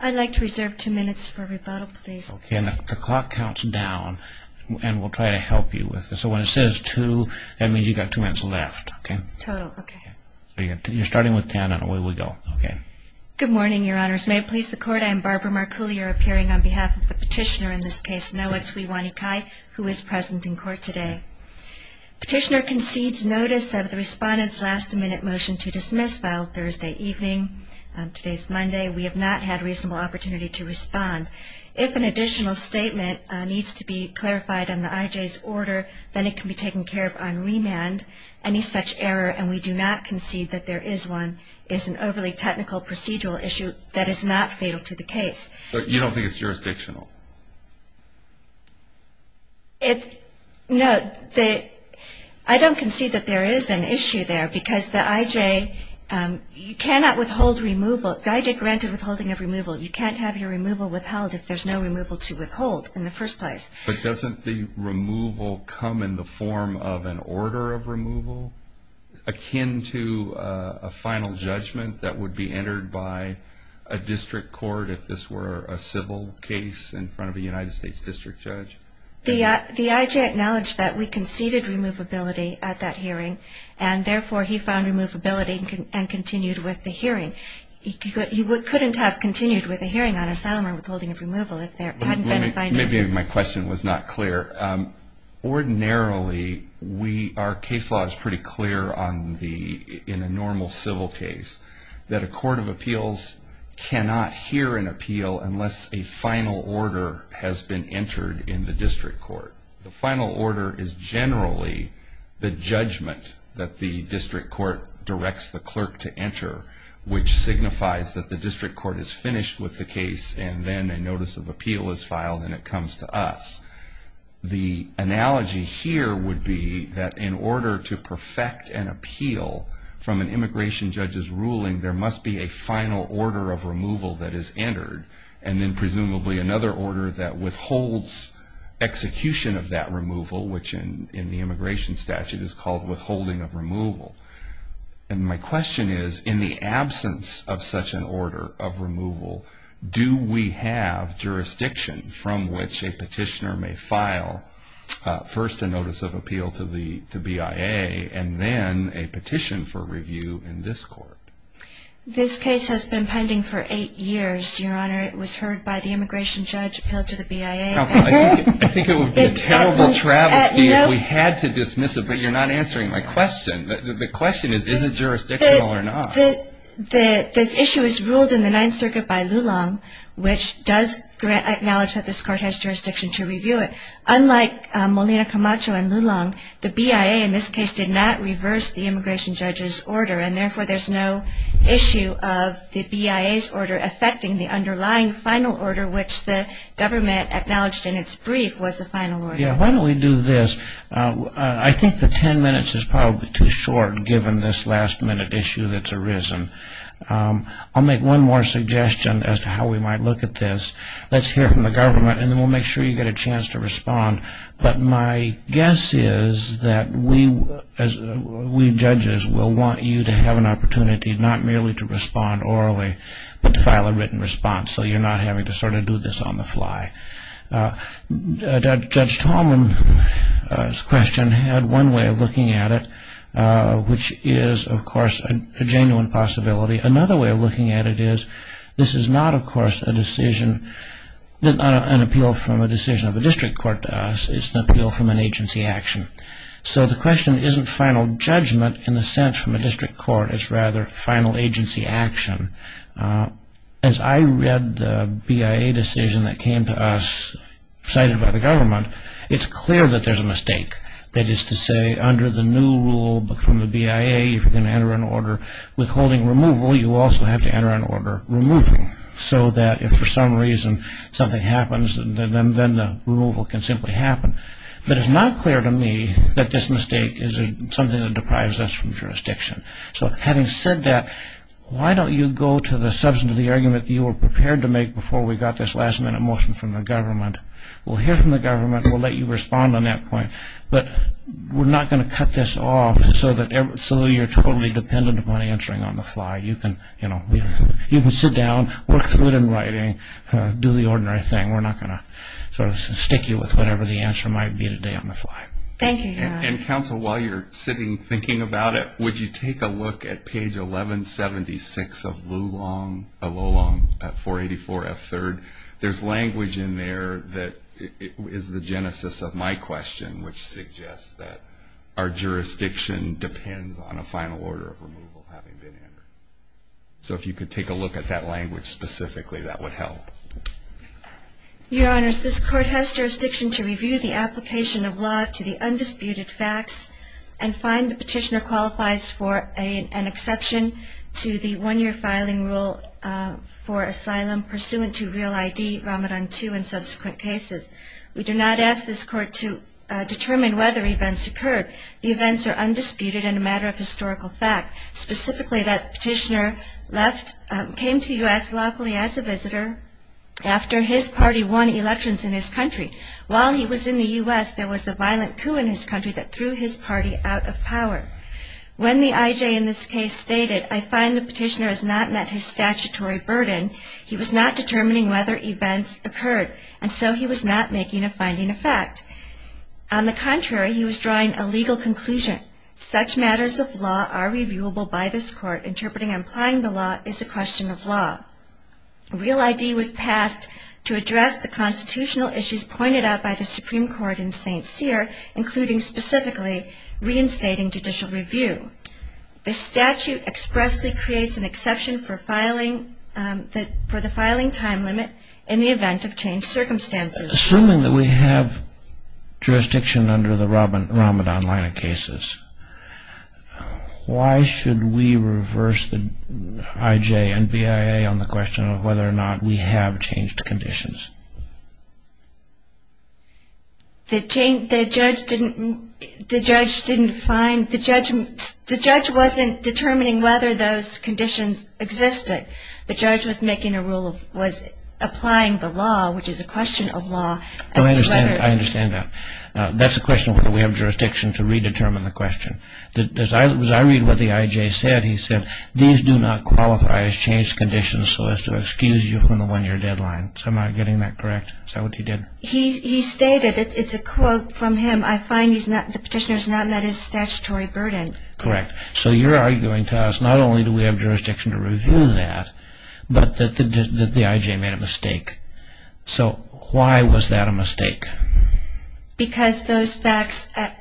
I'd like to reserve two minutes for rebuttal, please. The clock counts down, and we'll try to help you with it. So when it says two, that means you've got two minutes left, okay? Total, okay. You're starting with ten, and away we go. Good morning, Your Honors. May it please the Court, I am Barbara Marcoulier, appearing on behalf of the petitioner in this case, Noah Tuiwainikai, who is present in court today. Petitioner concedes notice of the respondent's last-minute motion to dismiss filed Thursday evening. Today is Monday. We have not had a reasonable opportunity to respond. If an additional statement needs to be clarified on the IJ's order, then it can be taken care of on remand. Any such error, and we do not concede that there is one, is an overly technical procedural issue that is not fatal to the case. So you don't think it's jurisdictional? No, I don't concede that there is an issue there, because the IJ cannot withhold removal. The IJ granted withholding of removal. You can't have your removal withheld if there's no removal to withhold in the first place. But doesn't the removal come in the form of an order of removal, akin to a final judgment that would be entered by a district court, if this were a civil case in front of a United States district judge? The IJ acknowledged that we conceded removability at that hearing, and therefore he found removability and continued with the hearing. He couldn't have continued with a hearing on asylum or withholding of removal if there hadn't been a final judgment. Maybe my question was not clear. Ordinarily, our case law is pretty clear in a normal civil case, that a court of appeals cannot hear an appeal unless a final order has been entered in the district court. The final order is generally the judgment that the district court directs the clerk to enter, which signifies that the district court is finished with the case and then a notice of appeal is filed and it comes to us. The analogy here would be that in order to perfect an appeal from an immigration judge's ruling, there must be a final order of removal that is entered, and then presumably another order that withholds execution of that removal, which in the immigration statute is called withholding of removal. My question is, in the absence of such an order of removal, do we have jurisdiction from which a petitioner may file first a notice of appeal to BIA and then a petition for review in this court? This case has been pending for eight years, Your Honor. It was heard by the immigration judge appealed to the BIA. I think it would be a terrible travesty if we had to dismiss it, but you're not answering my question. The question is, is it jurisdictional or not? This issue is ruled in the Ninth Circuit by Lulong, which does acknowledge that this court has jurisdiction to review it. Unlike Molina Camacho and Lulong, the BIA in this case did not reverse the immigration judge's order, and therefore there's no issue of the BIA's order affecting the underlying final order, which the government acknowledged in its brief was the final order. Yeah, why don't we do this? I think the ten minutes is probably too short, given this last-minute issue that's arisen. I'll make one more suggestion as to how we might look at this. Let's hear from the government, and then we'll make sure you get a chance to respond. But my guess is that we judges will want you to have an opportunity not merely to respond orally, but to file a written response so you're not having to sort of do this on the fly. Judge Tallman's question had one way of looking at it, which is, of course, a genuine possibility. Another way of looking at it is this is not, of course, an appeal from a decision of a district court to us. It's an appeal from an agency action. So the question isn't final judgment in the sense from a district court. It's rather final agency action. As I read the BIA decision that came to us, cited by the government, it's clear that there's a mistake. That is to say, under the new rule from the BIA, if you're going to enter an order withholding removal, you also have to enter an order removing, so that if for some reason something happens, then the removal can simply happen. But it's not clear to me that this mistake is something that deprives us from jurisdiction. So having said that, why don't you go to the substance of the argument you were prepared to make before we got this last-minute motion from the government. We'll hear from the government. We'll let you respond on that point. But we're not going to cut this off so you're totally dependent upon answering on the fly. You can sit down, work through it in writing, do the ordinary thing. We're not going to sort of stick you with whatever the answer might be today on the fly. Thank you, Your Honor. And, counsel, while you're sitting thinking about it, would you take a look at page 1176 of Lulong 484F3? There's language in there that is the genesis of my question, which suggests that our jurisdiction depends on a final order of removal having been entered. So if you could take a look at that language specifically, that would help. Your Honors, this Court has jurisdiction to review the application of law to the undisputed facts and find the petitioner qualifies for an exception to the one-year filing rule for asylum pursuant to Real ID, Ramadan 2, and subsequent cases. We do not ask this Court to determine whether events occurred. The events are undisputed and a matter of historical fact, specifically that the petitioner came to U.S. lawfully as a visitor after his party won elections in his country. While he was in the U.S., there was a violent coup in his country that threw his party out of power. When the I.J. in this case stated, I find the petitioner has not met his statutory burden, he was not determining whether events occurred, and so he was not making a finding of fact. On the contrary, he was drawing a legal conclusion. Such matters of law are reviewable by this Court. Interpreting and applying the law is a question of law. Real ID was passed to address the constitutional issues pointed out by the Supreme Court in St. Cyr, including specifically reinstating judicial review. The statute expressly creates an exception for the filing time limit in the event of changed circumstances. Assuming that we have jurisdiction under the Ramadan line of cases, why should we reverse the I.J. and B.I.A. on the question of whether or not we have changed conditions? The judge wasn't determining whether those conditions existed. The judge was applying the law, which is a question of law. I understand that. That's a question of whether we have jurisdiction to redetermine the question. As I read what the I.J. said, he said, these do not qualify as changed conditions so as to excuse you from the one-year deadline. Am I getting that correct? Is that what he did? He stated, it's a quote from him, I find the petitioner has not met his statutory burden. Correct. So you're arguing to us not only do we have jurisdiction to review that, but that the I.J. made a mistake. So why was that a mistake? Because the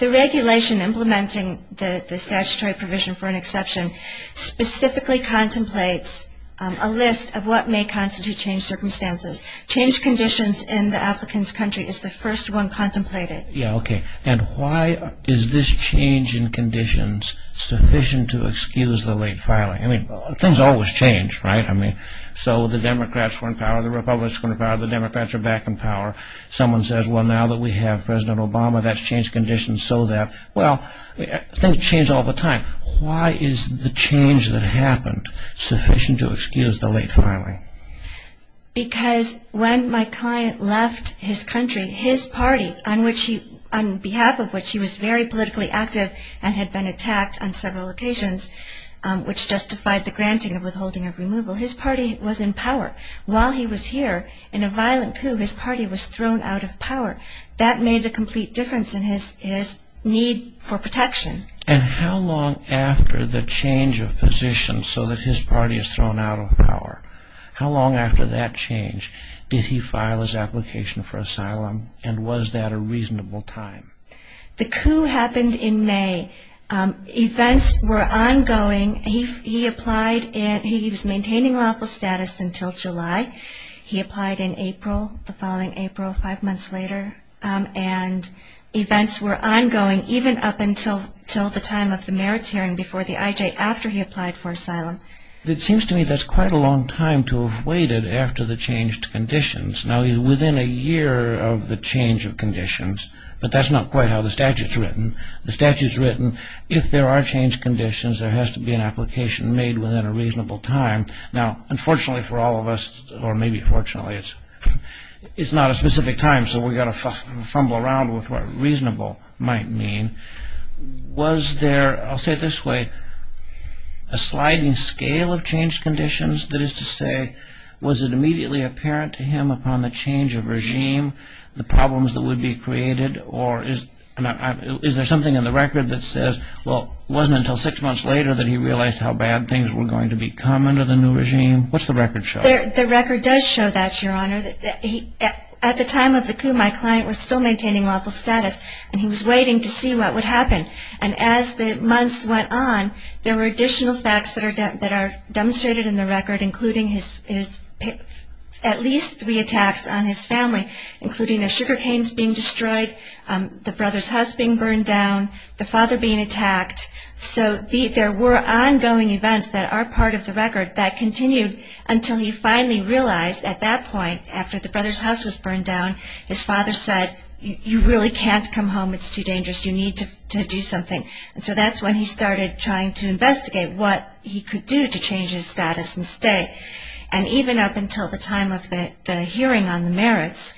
regulation implementing the statutory provision for an exception specifically contemplates a list of what may constitute changed circumstances. Changed conditions in the applicant's country is the first one contemplated. Yeah, okay. And why is this change in conditions sufficient to excuse the late filing? I mean, things always change, right? I mean, so the Democrats are in power, the Republicans are in power, the Democrats are back in power. Someone says, well, now that we have President Obama, that's changed conditions so that, well, things change all the time. Why is the change that happened sufficient to excuse the late filing? Because when my client left his country, his party, on behalf of which he was very politically active and had been attacked on several occasions, which justified the granting of withholding of removal, his party was in power. While he was here, in a violent coup, his party was thrown out of power. That made a complete difference in his need for protection. And how long after the change of position so that his party is thrown out of power, how long after that change did he file his application for asylum, and was that a reasonable time? The coup happened in May. Events were ongoing. He applied and he was maintaining lawful status until July. He applied in April, the following April, five months later, and events were ongoing even up until the time of the mayor's hearing before the IJ, after he applied for asylum. It seems to me that's quite a long time to have waited after the changed conditions. Now, within a year of the change of conditions, but that's not quite how the statute's written. The statute's written, if there are changed conditions, there has to be an application made within a reasonable time. Now, unfortunately for all of us, or maybe fortunately, it's not a specific time, so we've got to fumble around with what reasonable might mean. Was there, I'll say it this way, a sliding scale of changed conditions? That is to say, was it immediately apparent to him upon the change of regime, the problems that would be created, or is there something in the record that says, well, it wasn't until six months later that he realized how bad things were going to become under the new regime? What's the record show? The record does show that, Your Honor. At the time of the coup, my client was still maintaining lawful status, and he was waiting to see what would happen. And as the months went on, there were additional facts that are demonstrated in the record, including at least three attacks on his family, including the sugar canes being destroyed, the brother's husband being burned down, the father being attacked. So there were ongoing events that are part of the record that continued until he finally realized at that point, after the brother's house was burned down, his father said, you really can't come home. It's too dangerous. You need to do something. And so that's when he started trying to investigate what he could do to change his status and stay. And even up until the time of the hearing on the merits,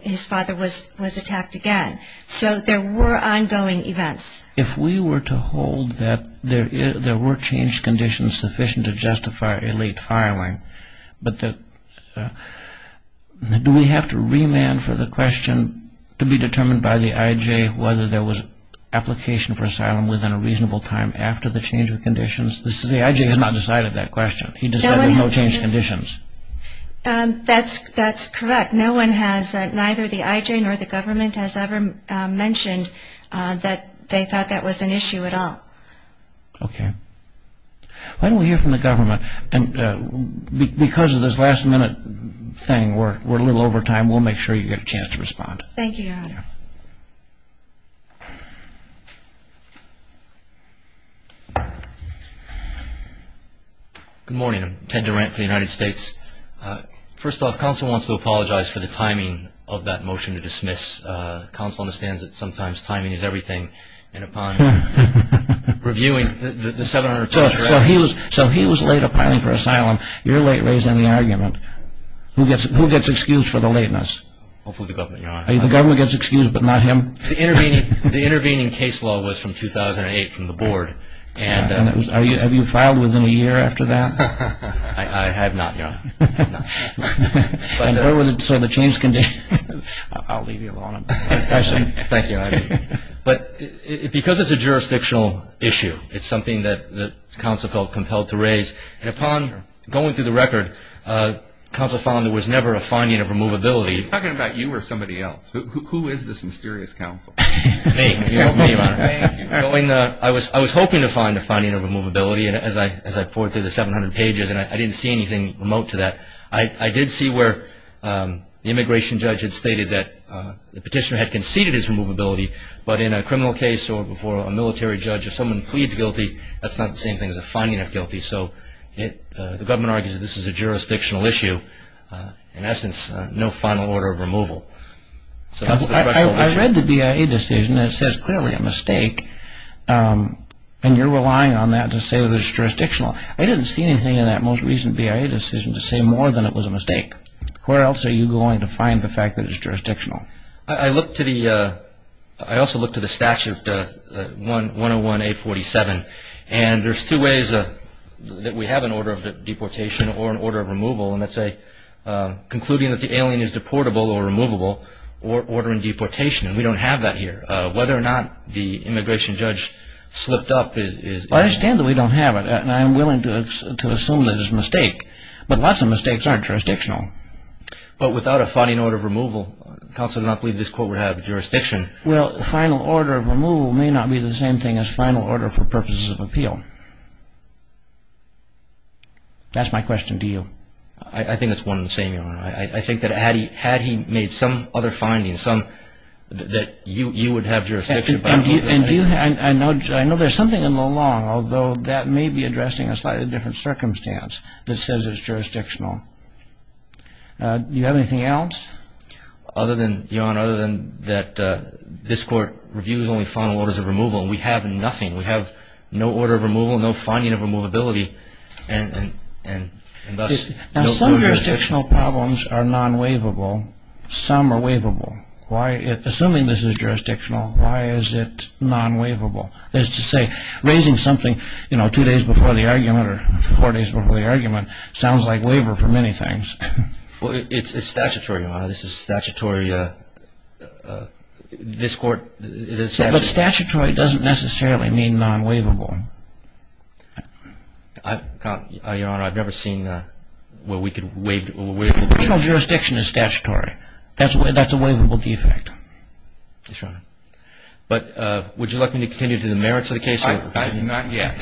his father was attacked again. So there were ongoing events. If we were to hold that there were changed conditions sufficient to justify a late filing, but do we have to remand for the question to be determined by the I.J. whether there was application for asylum within a reasonable time after the change of conditions? The I.J. has not decided that question. He decided no changed conditions. That's correct. Neither the I.J. nor the government has ever mentioned that they thought that was an issue at all. Okay. Why don't we hear from the government? And because of this last-minute thing, we're a little over time. We'll make sure you get a chance to respond. Thank you, Your Honor. Good morning. Ted Durant for the United States. First off, counsel wants to apologize for the timing of that motion to dismiss. Counsel understands that sometimes timing is everything. And upon reviewing the 700 pages of record. So he was late applying for asylum. You're late raising the argument. Who gets excused for the lateness? Hopefully the government, Your Honor. The government gets excused but not him? The intervening case law was from 2008 from the board. Have you filed within a year after that? I have not, Your Honor. So the changed conditions. I'll leave you alone. Thank you. But because it's a jurisdictional issue, it's something that counsel felt compelled to raise. And upon going through the record, counsel found there was never a finding of removability. Are you talking about you or somebody else? Who is this mysterious counsel? Me, Your Honor. I was hoping to find a finding of removability as I pored through the 700 pages. And I didn't see anything remote to that. I did see where the immigration judge had stated that the petitioner had conceded his removability. But in a criminal case or before a military judge, if someone pleads guilty, that's not the same thing as a finding of guilty. So the government argues that this is a jurisdictional issue. In essence, no final order of removal. I read the BIA decision. It says clearly a mistake. And you're relying on that to say that it's jurisdictional. I didn't see anything in that most recent BIA decision to say more than it was a mistake. Where else are you going to find the fact that it's jurisdictional? I looked to the statute 101-847. And there's two ways that we have an order of deportation or an order of removal. And that's concluding that the alien is deportable or removable or ordering deportation. And we don't have that here. Whether or not the immigration judge slipped up is ____. Well, I understand that we don't have it. And I'm willing to assume that it's a mistake. But lots of mistakes aren't jurisdictional. But without a finding order of removal, counsel did not believe this court would have jurisdiction. Well, final order of removal may not be the same thing as final order for purposes of appeal. That's my question to you. I think it's one and the same, Your Honor. I think that had he made some other findings, some that you would have jurisdiction. And I know there's something in the law, although that may be addressing a slightly different circumstance that says it's jurisdictional. Do you have anything else? Your Honor, other than that this court reviews only final orders of removal. We have nothing. We have no order of removal, no finding of removability, and thus no jurisdiction. Now, some jurisdictional problems are non-waivable. Some are waivable. Assuming this is jurisdictional, why is it non-waivable? That is to say, raising something two days before the argument or four days before the argument sounds like waiver for many things. Well, it's statutory, Your Honor. This is statutory. But statutory doesn't necessarily mean non-waivable. Your Honor, I've never seen where we could waive it. Personal jurisdiction is statutory. That's a waivable defect. Yes, Your Honor. But would you like me to continue to the merits of the case? Not yet.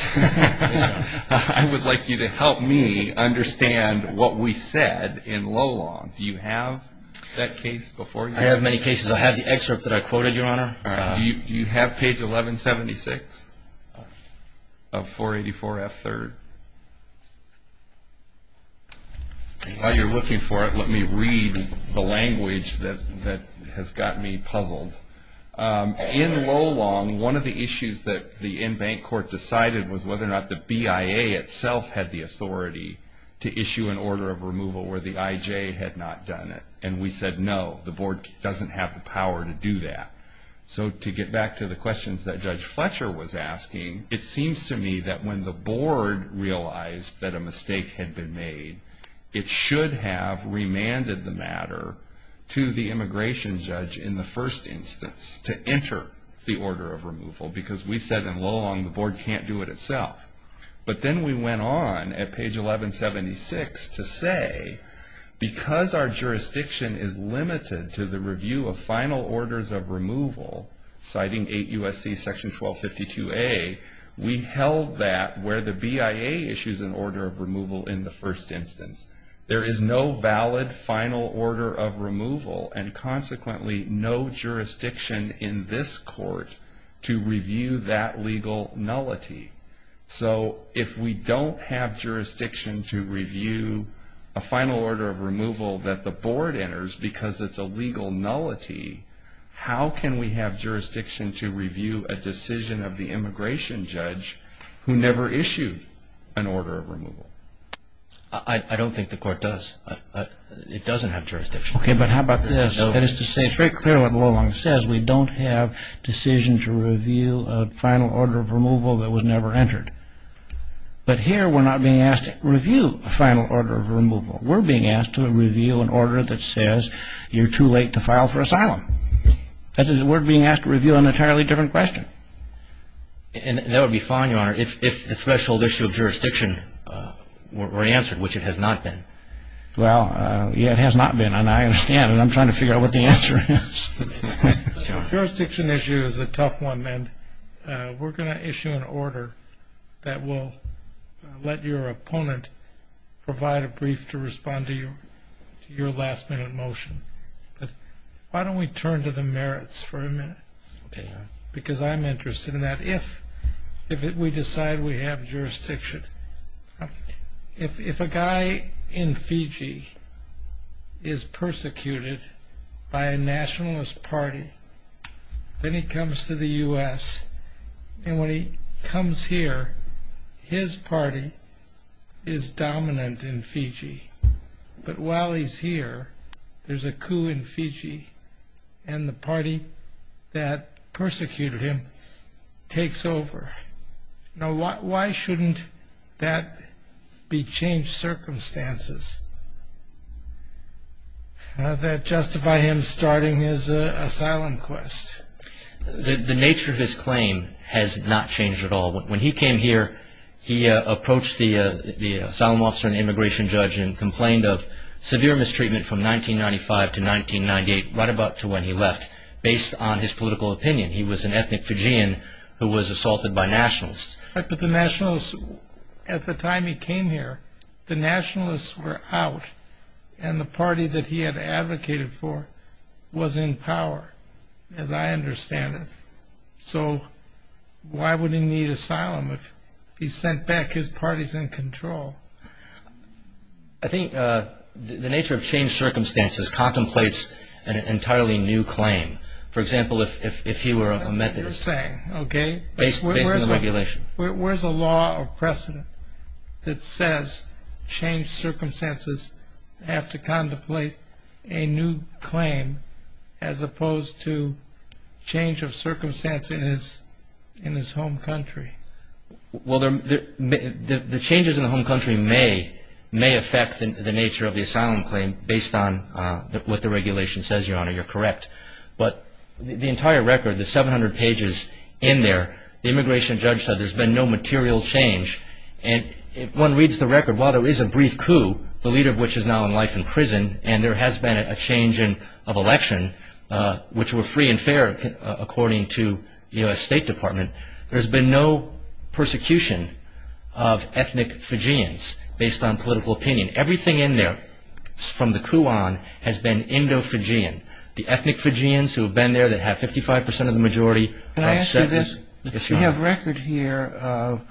I would like you to help me understand what we said in low law. Do you have that case before you? I have many cases. I have the excerpt that I quoted, Your Honor. Do you have page 1176 of 484F3? While you're looking for it, let me read the language that has gotten me puzzled. In low law, one of the issues that the in-bank court decided was whether or not the BIA itself had the authority to issue an order of removal where the IJ had not done it. And we said, no, the board doesn't have the power to do that. So to get back to the questions that Judge Fletcher was asking, it seems to me that when the board realized that a mistake had been made, it should have remanded the matter to the immigration judge in the first instance to enter the order of removal because we said in low law the board can't do it itself. But then we went on at page 1176 to say, because our jurisdiction is limited to the review of final orders of removal, citing 8 U.S.C. section 1252A, we held that where the BIA issues an order of removal in the first instance. There is no valid final order of removal, and consequently no jurisdiction in this court to review that legal nullity. So if we don't have jurisdiction to review a final order of removal that the board enters because it's a legal nullity, how can we have jurisdiction to review a decision of the immigration judge who never issued an order of removal? I don't think the court does. It doesn't have jurisdiction. Okay, but how about this? That is to say very clearly what the law says. We don't have decision to review a final order of removal that was never entered. But here we're not being asked to review a final order of removal. We're being asked to review an order that says you're too late to file for asylum. We're being asked to review an entirely different question. And that would be fine, Your Honor, if the threshold issue of jurisdiction were answered, which it has not been. Well, yeah, it has not been, and I understand, and I'm trying to figure out what the answer is. Jurisdiction issue is a tough one, and we're going to issue an order that will let your opponent provide a brief to respond to your last-minute motion. Why don't we turn to the merits for a minute? Okay, Your Honor. Because I'm interested in that. If we decide we have jurisdiction. If a guy in Fiji is persecuted by a nationalist party, then he comes to the U.S., and when he comes here, his party is dominant in Fiji. But while he's here, there's a coup in Fiji, and the party that persecuted him takes over. Now, why shouldn't that be changed circumstances that justify him starting his asylum quest? The nature of his claim has not changed at all. When he came here, he approached the asylum officer and complained of severe mistreatment from 1995 to 1998, right about to when he left, based on his political opinion. He was an ethnic Fijian who was assaulted by nationalists. But the nationalists, at the time he came here, the nationalists were out, and the party that he had advocated for was in power, as I understand it. So why would he need asylum if he sent back his parties in control? I think the nature of changed circumstances contemplates an entirely new claim. For example, if he were a Methodist. That's what you're saying, okay. Based on his regulation. Where's a law or precedent that says changed circumstances have to contemplate a new claim as opposed to change of circumstance in his home country? Well, the changes in the home country may affect the nature of the asylum claim based on what the regulation says, Your Honor. You're correct. But the entire record, the 700 pages in there, the immigration judge said there's been no material change. And if one reads the record, while there is a brief coup, the leader of which is now in life in prison, and there has been a change of election, which were free and fair, according to the State Department, there's been no persecution of ethnic Fijians based on political opinion. Everything in there from the coup on has been Indo-Fijian. The ethnic Fijians who have been there, that have 55% of the majority... Can I ask you this? Yes, Your Honor. We have record here of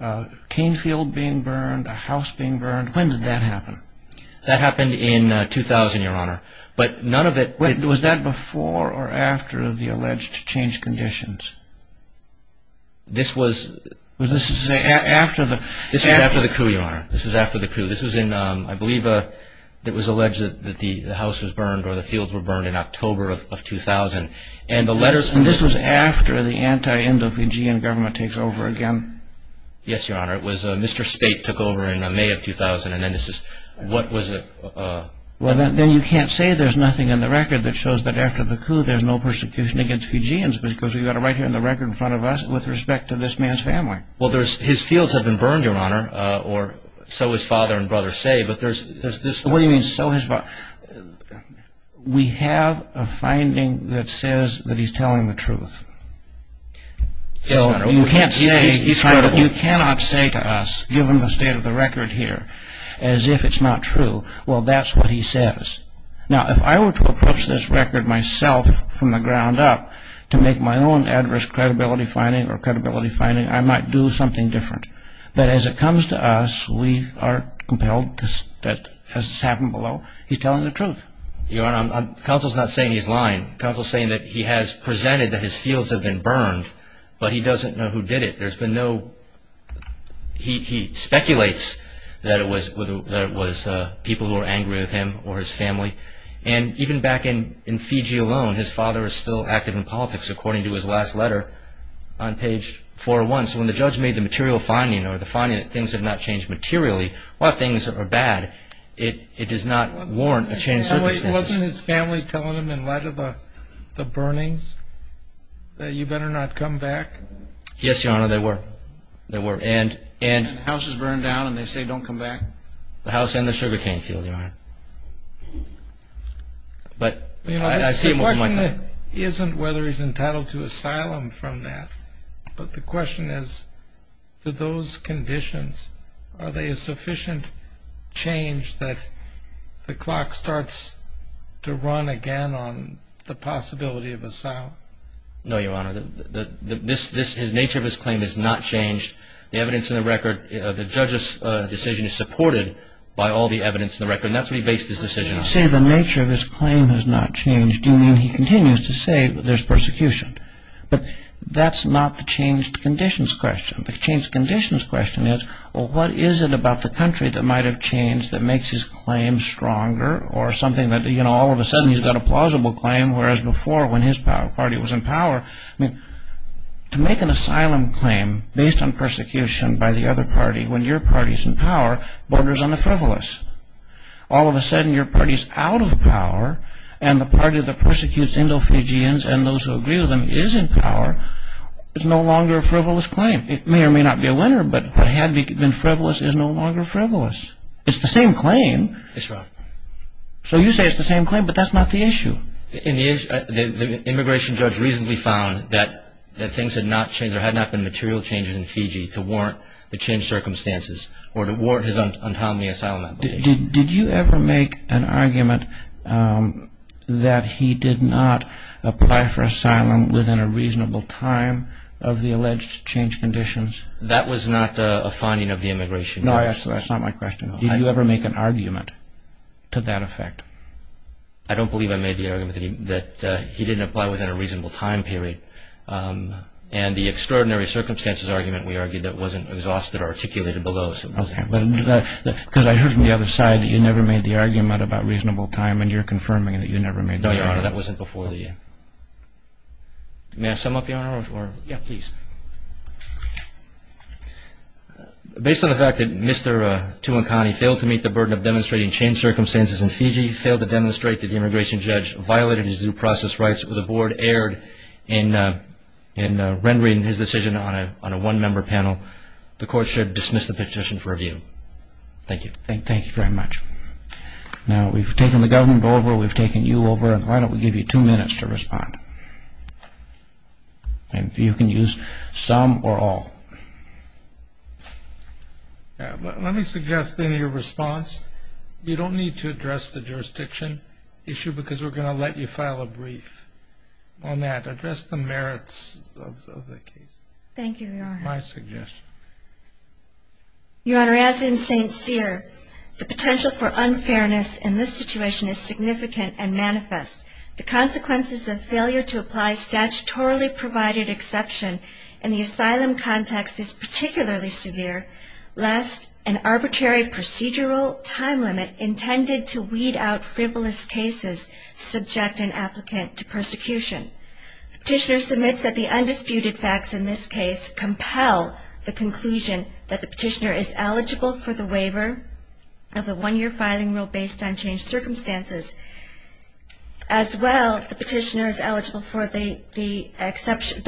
a cane field being burned, a house being burned. When did that happen? That happened in 2000, Your Honor. But none of it... Was that before or after the alleged change conditions? This was... Was this after the... This was after the coup, Your Honor. This was after the coup. This was in, I believe, it was alleged that the house was burned or the fields were burned in October of 2000. And the letters... And this was after the anti-Indo-Fijian government takes over again? Yes, Your Honor. It was Mr. Spate took over in May of 2000, and then this is... What was it? Well, then you can't say there's nothing in the record that shows that after the coup there's no persecution against Fijians because we've got it right here in the record in front of us with respect to this man's family. Well, there's... His fields have been burned, Your Honor, or so his father and brother say, but there's... What do you mean, so his father... We have a finding that says that he's telling the truth. Yes, Your Honor. You can't say... He's credible. You cannot say to us, given the state of the record here, as if it's not true. Well, that's what he says. Now, if I were to approach this record myself from the ground up to make my own adverse credibility finding or credibility finding, I might do something different. But as it comes to us, we are compelled, as has happened below, he's telling the truth. Your Honor, counsel's not saying he's lying. Counsel's saying that he has presented that his fields have been burned, but he doesn't know who did it. There's been no... He speculates that it was people who were angry with him or his family. And even back in Fiji alone, his father is still active in politics, according to his last letter on page 401. So when the judge made the material finding or the finding that things have not changed materially, while things are bad, it does not warrant a change of circumstances. Wasn't his family telling him in light of the burnings that you better not come back? Yes, Your Honor, they were. And the house is burned down and they say don't come back? The house and the sugarcane field, Your Honor. But I see him over my head. The question isn't whether he's entitled to asylum from that, but the question is, do those conditions, are they a sufficient change that the clock starts to run again on the possibility of asylum? No, Your Honor. The nature of his claim has not changed. The evidence in the record, the judge's decision is supported by all the evidence in the record, and that's what he based his decision on. When you say the nature of his claim has not changed, do you mean he continues to say there's persecution? But that's not the changed conditions question. The changed conditions question is, well, what is it about the country that might have changed that makes his claim stronger or something that, you know, all of a sudden he's got a plausible claim, whereas before when his party was in power, I mean, to make an asylum claim based on persecution by the other party when your party's in power borders on the frivolous. All of a sudden your party's out of power and the party that persecutes Indo-Fijians and those who agree with them is in power is no longer a frivolous claim. It may or may not be a winner, but what had been frivolous is no longer frivolous. It's the same claim. That's right. So you say it's the same claim, but that's not the issue. The immigration judge recently found that things had not changed, there had not been material changes in Fiji to warrant the changed circumstances or to warrant his untimely asylum application. Did you ever make an argument that he did not apply for asylum within a reasonable time of the alleged changed conditions? That was not a finding of the immigration judge. No, that's not my question. Did you ever make an argument to that effect? I don't believe I made the argument that he didn't apply within a reasonable time period. And the extraordinary circumstances argument we argued that wasn't exhausted or articulated below. Okay. Because I heard from the other side that you never made the argument about reasonable time and you're confirming that you never made the argument. No, Your Honor, that wasn't before the end. May I sum up, Your Honor? Yeah, please. Based on the fact that Mr. Tuankani failed to meet the burden of demonstrating changed circumstances in Fiji, failed to demonstrate that the immigration judge violated his due process rights, or the Board erred in rendering his decision on a one-member panel, the Court should dismiss the petition for review. Thank you. Thank you very much. Now, we've taken the government over, we've taken you over, and why don't we give you two minutes to respond. And you can use some or all. Let me suggest in your response, you don't need to address the jurisdiction issue because we're going to let you file a brief on that. Address the merits of the case. Thank you, Your Honor. That's my suggestion. Your Honor, as in St. Cyr, the potential for unfairness in this situation is significant and manifest. The consequences of failure to apply statutorily provided exception in the asylum context is particularly severe, lest an arbitrary procedural time limit intended to weed out frivolous cases subject an applicant to persecution. The petitioner submits that the undisputed facts in this case compel the conclusion that the petitioner is eligible for the waiver of the one-year filing rule based on changed circumstances. As well, the petitioner is eligible for the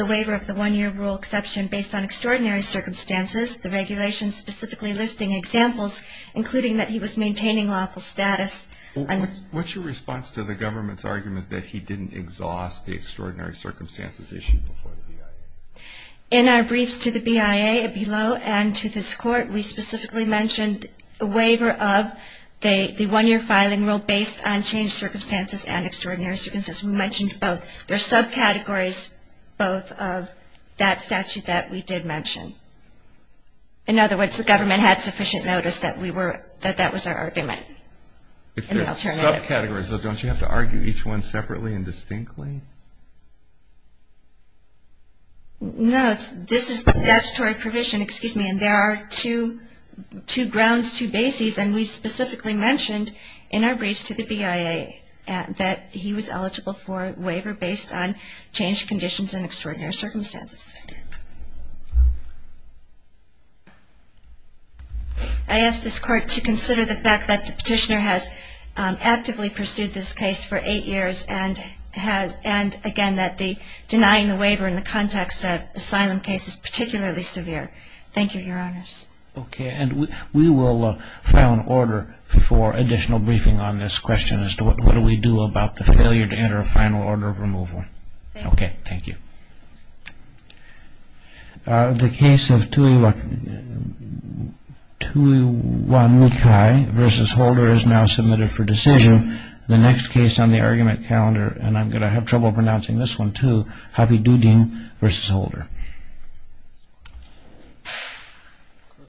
waiver of the one-year rule exception based on extraordinary circumstances, the regulations specifically listing examples, including that he was maintaining lawful status. What's your response to the government's argument that he didn't exhaust the extraordinary circumstances issued before the BIA? In our briefs to the BIA below and to this Court, we specifically mentioned a waiver of the one-year filing rule based on changed circumstances and extraordinary circumstances. We mentioned both. There are subcategories both of that statute that we did mention. In other words, the government had sufficient notice that that was our argument. If there are subcategories, don't you have to argue each one separately and distinctly? No, this is the statutory provision. And there are two grounds, two bases, and we specifically mentioned in our briefs to the BIA that he was eligible for a waiver based on changed conditions and extraordinary circumstances. I ask this Court to consider the fact that the petitioner has actively pursued this case for eight years and, again, that denying the waiver in the context of the asylum case is particularly severe. Thank you, Your Honors. Okay. And we will file an order for additional briefing on this question as to what do we do about the failure to enter a final order of removal. Thank you. Okay. Thank you. The case of Tuiwanukai v. Holder is now submitted for decision. Thank you. The next case on the argument calendar, and I'm going to have trouble pronouncing this one, too, Hapidudin v. Holder.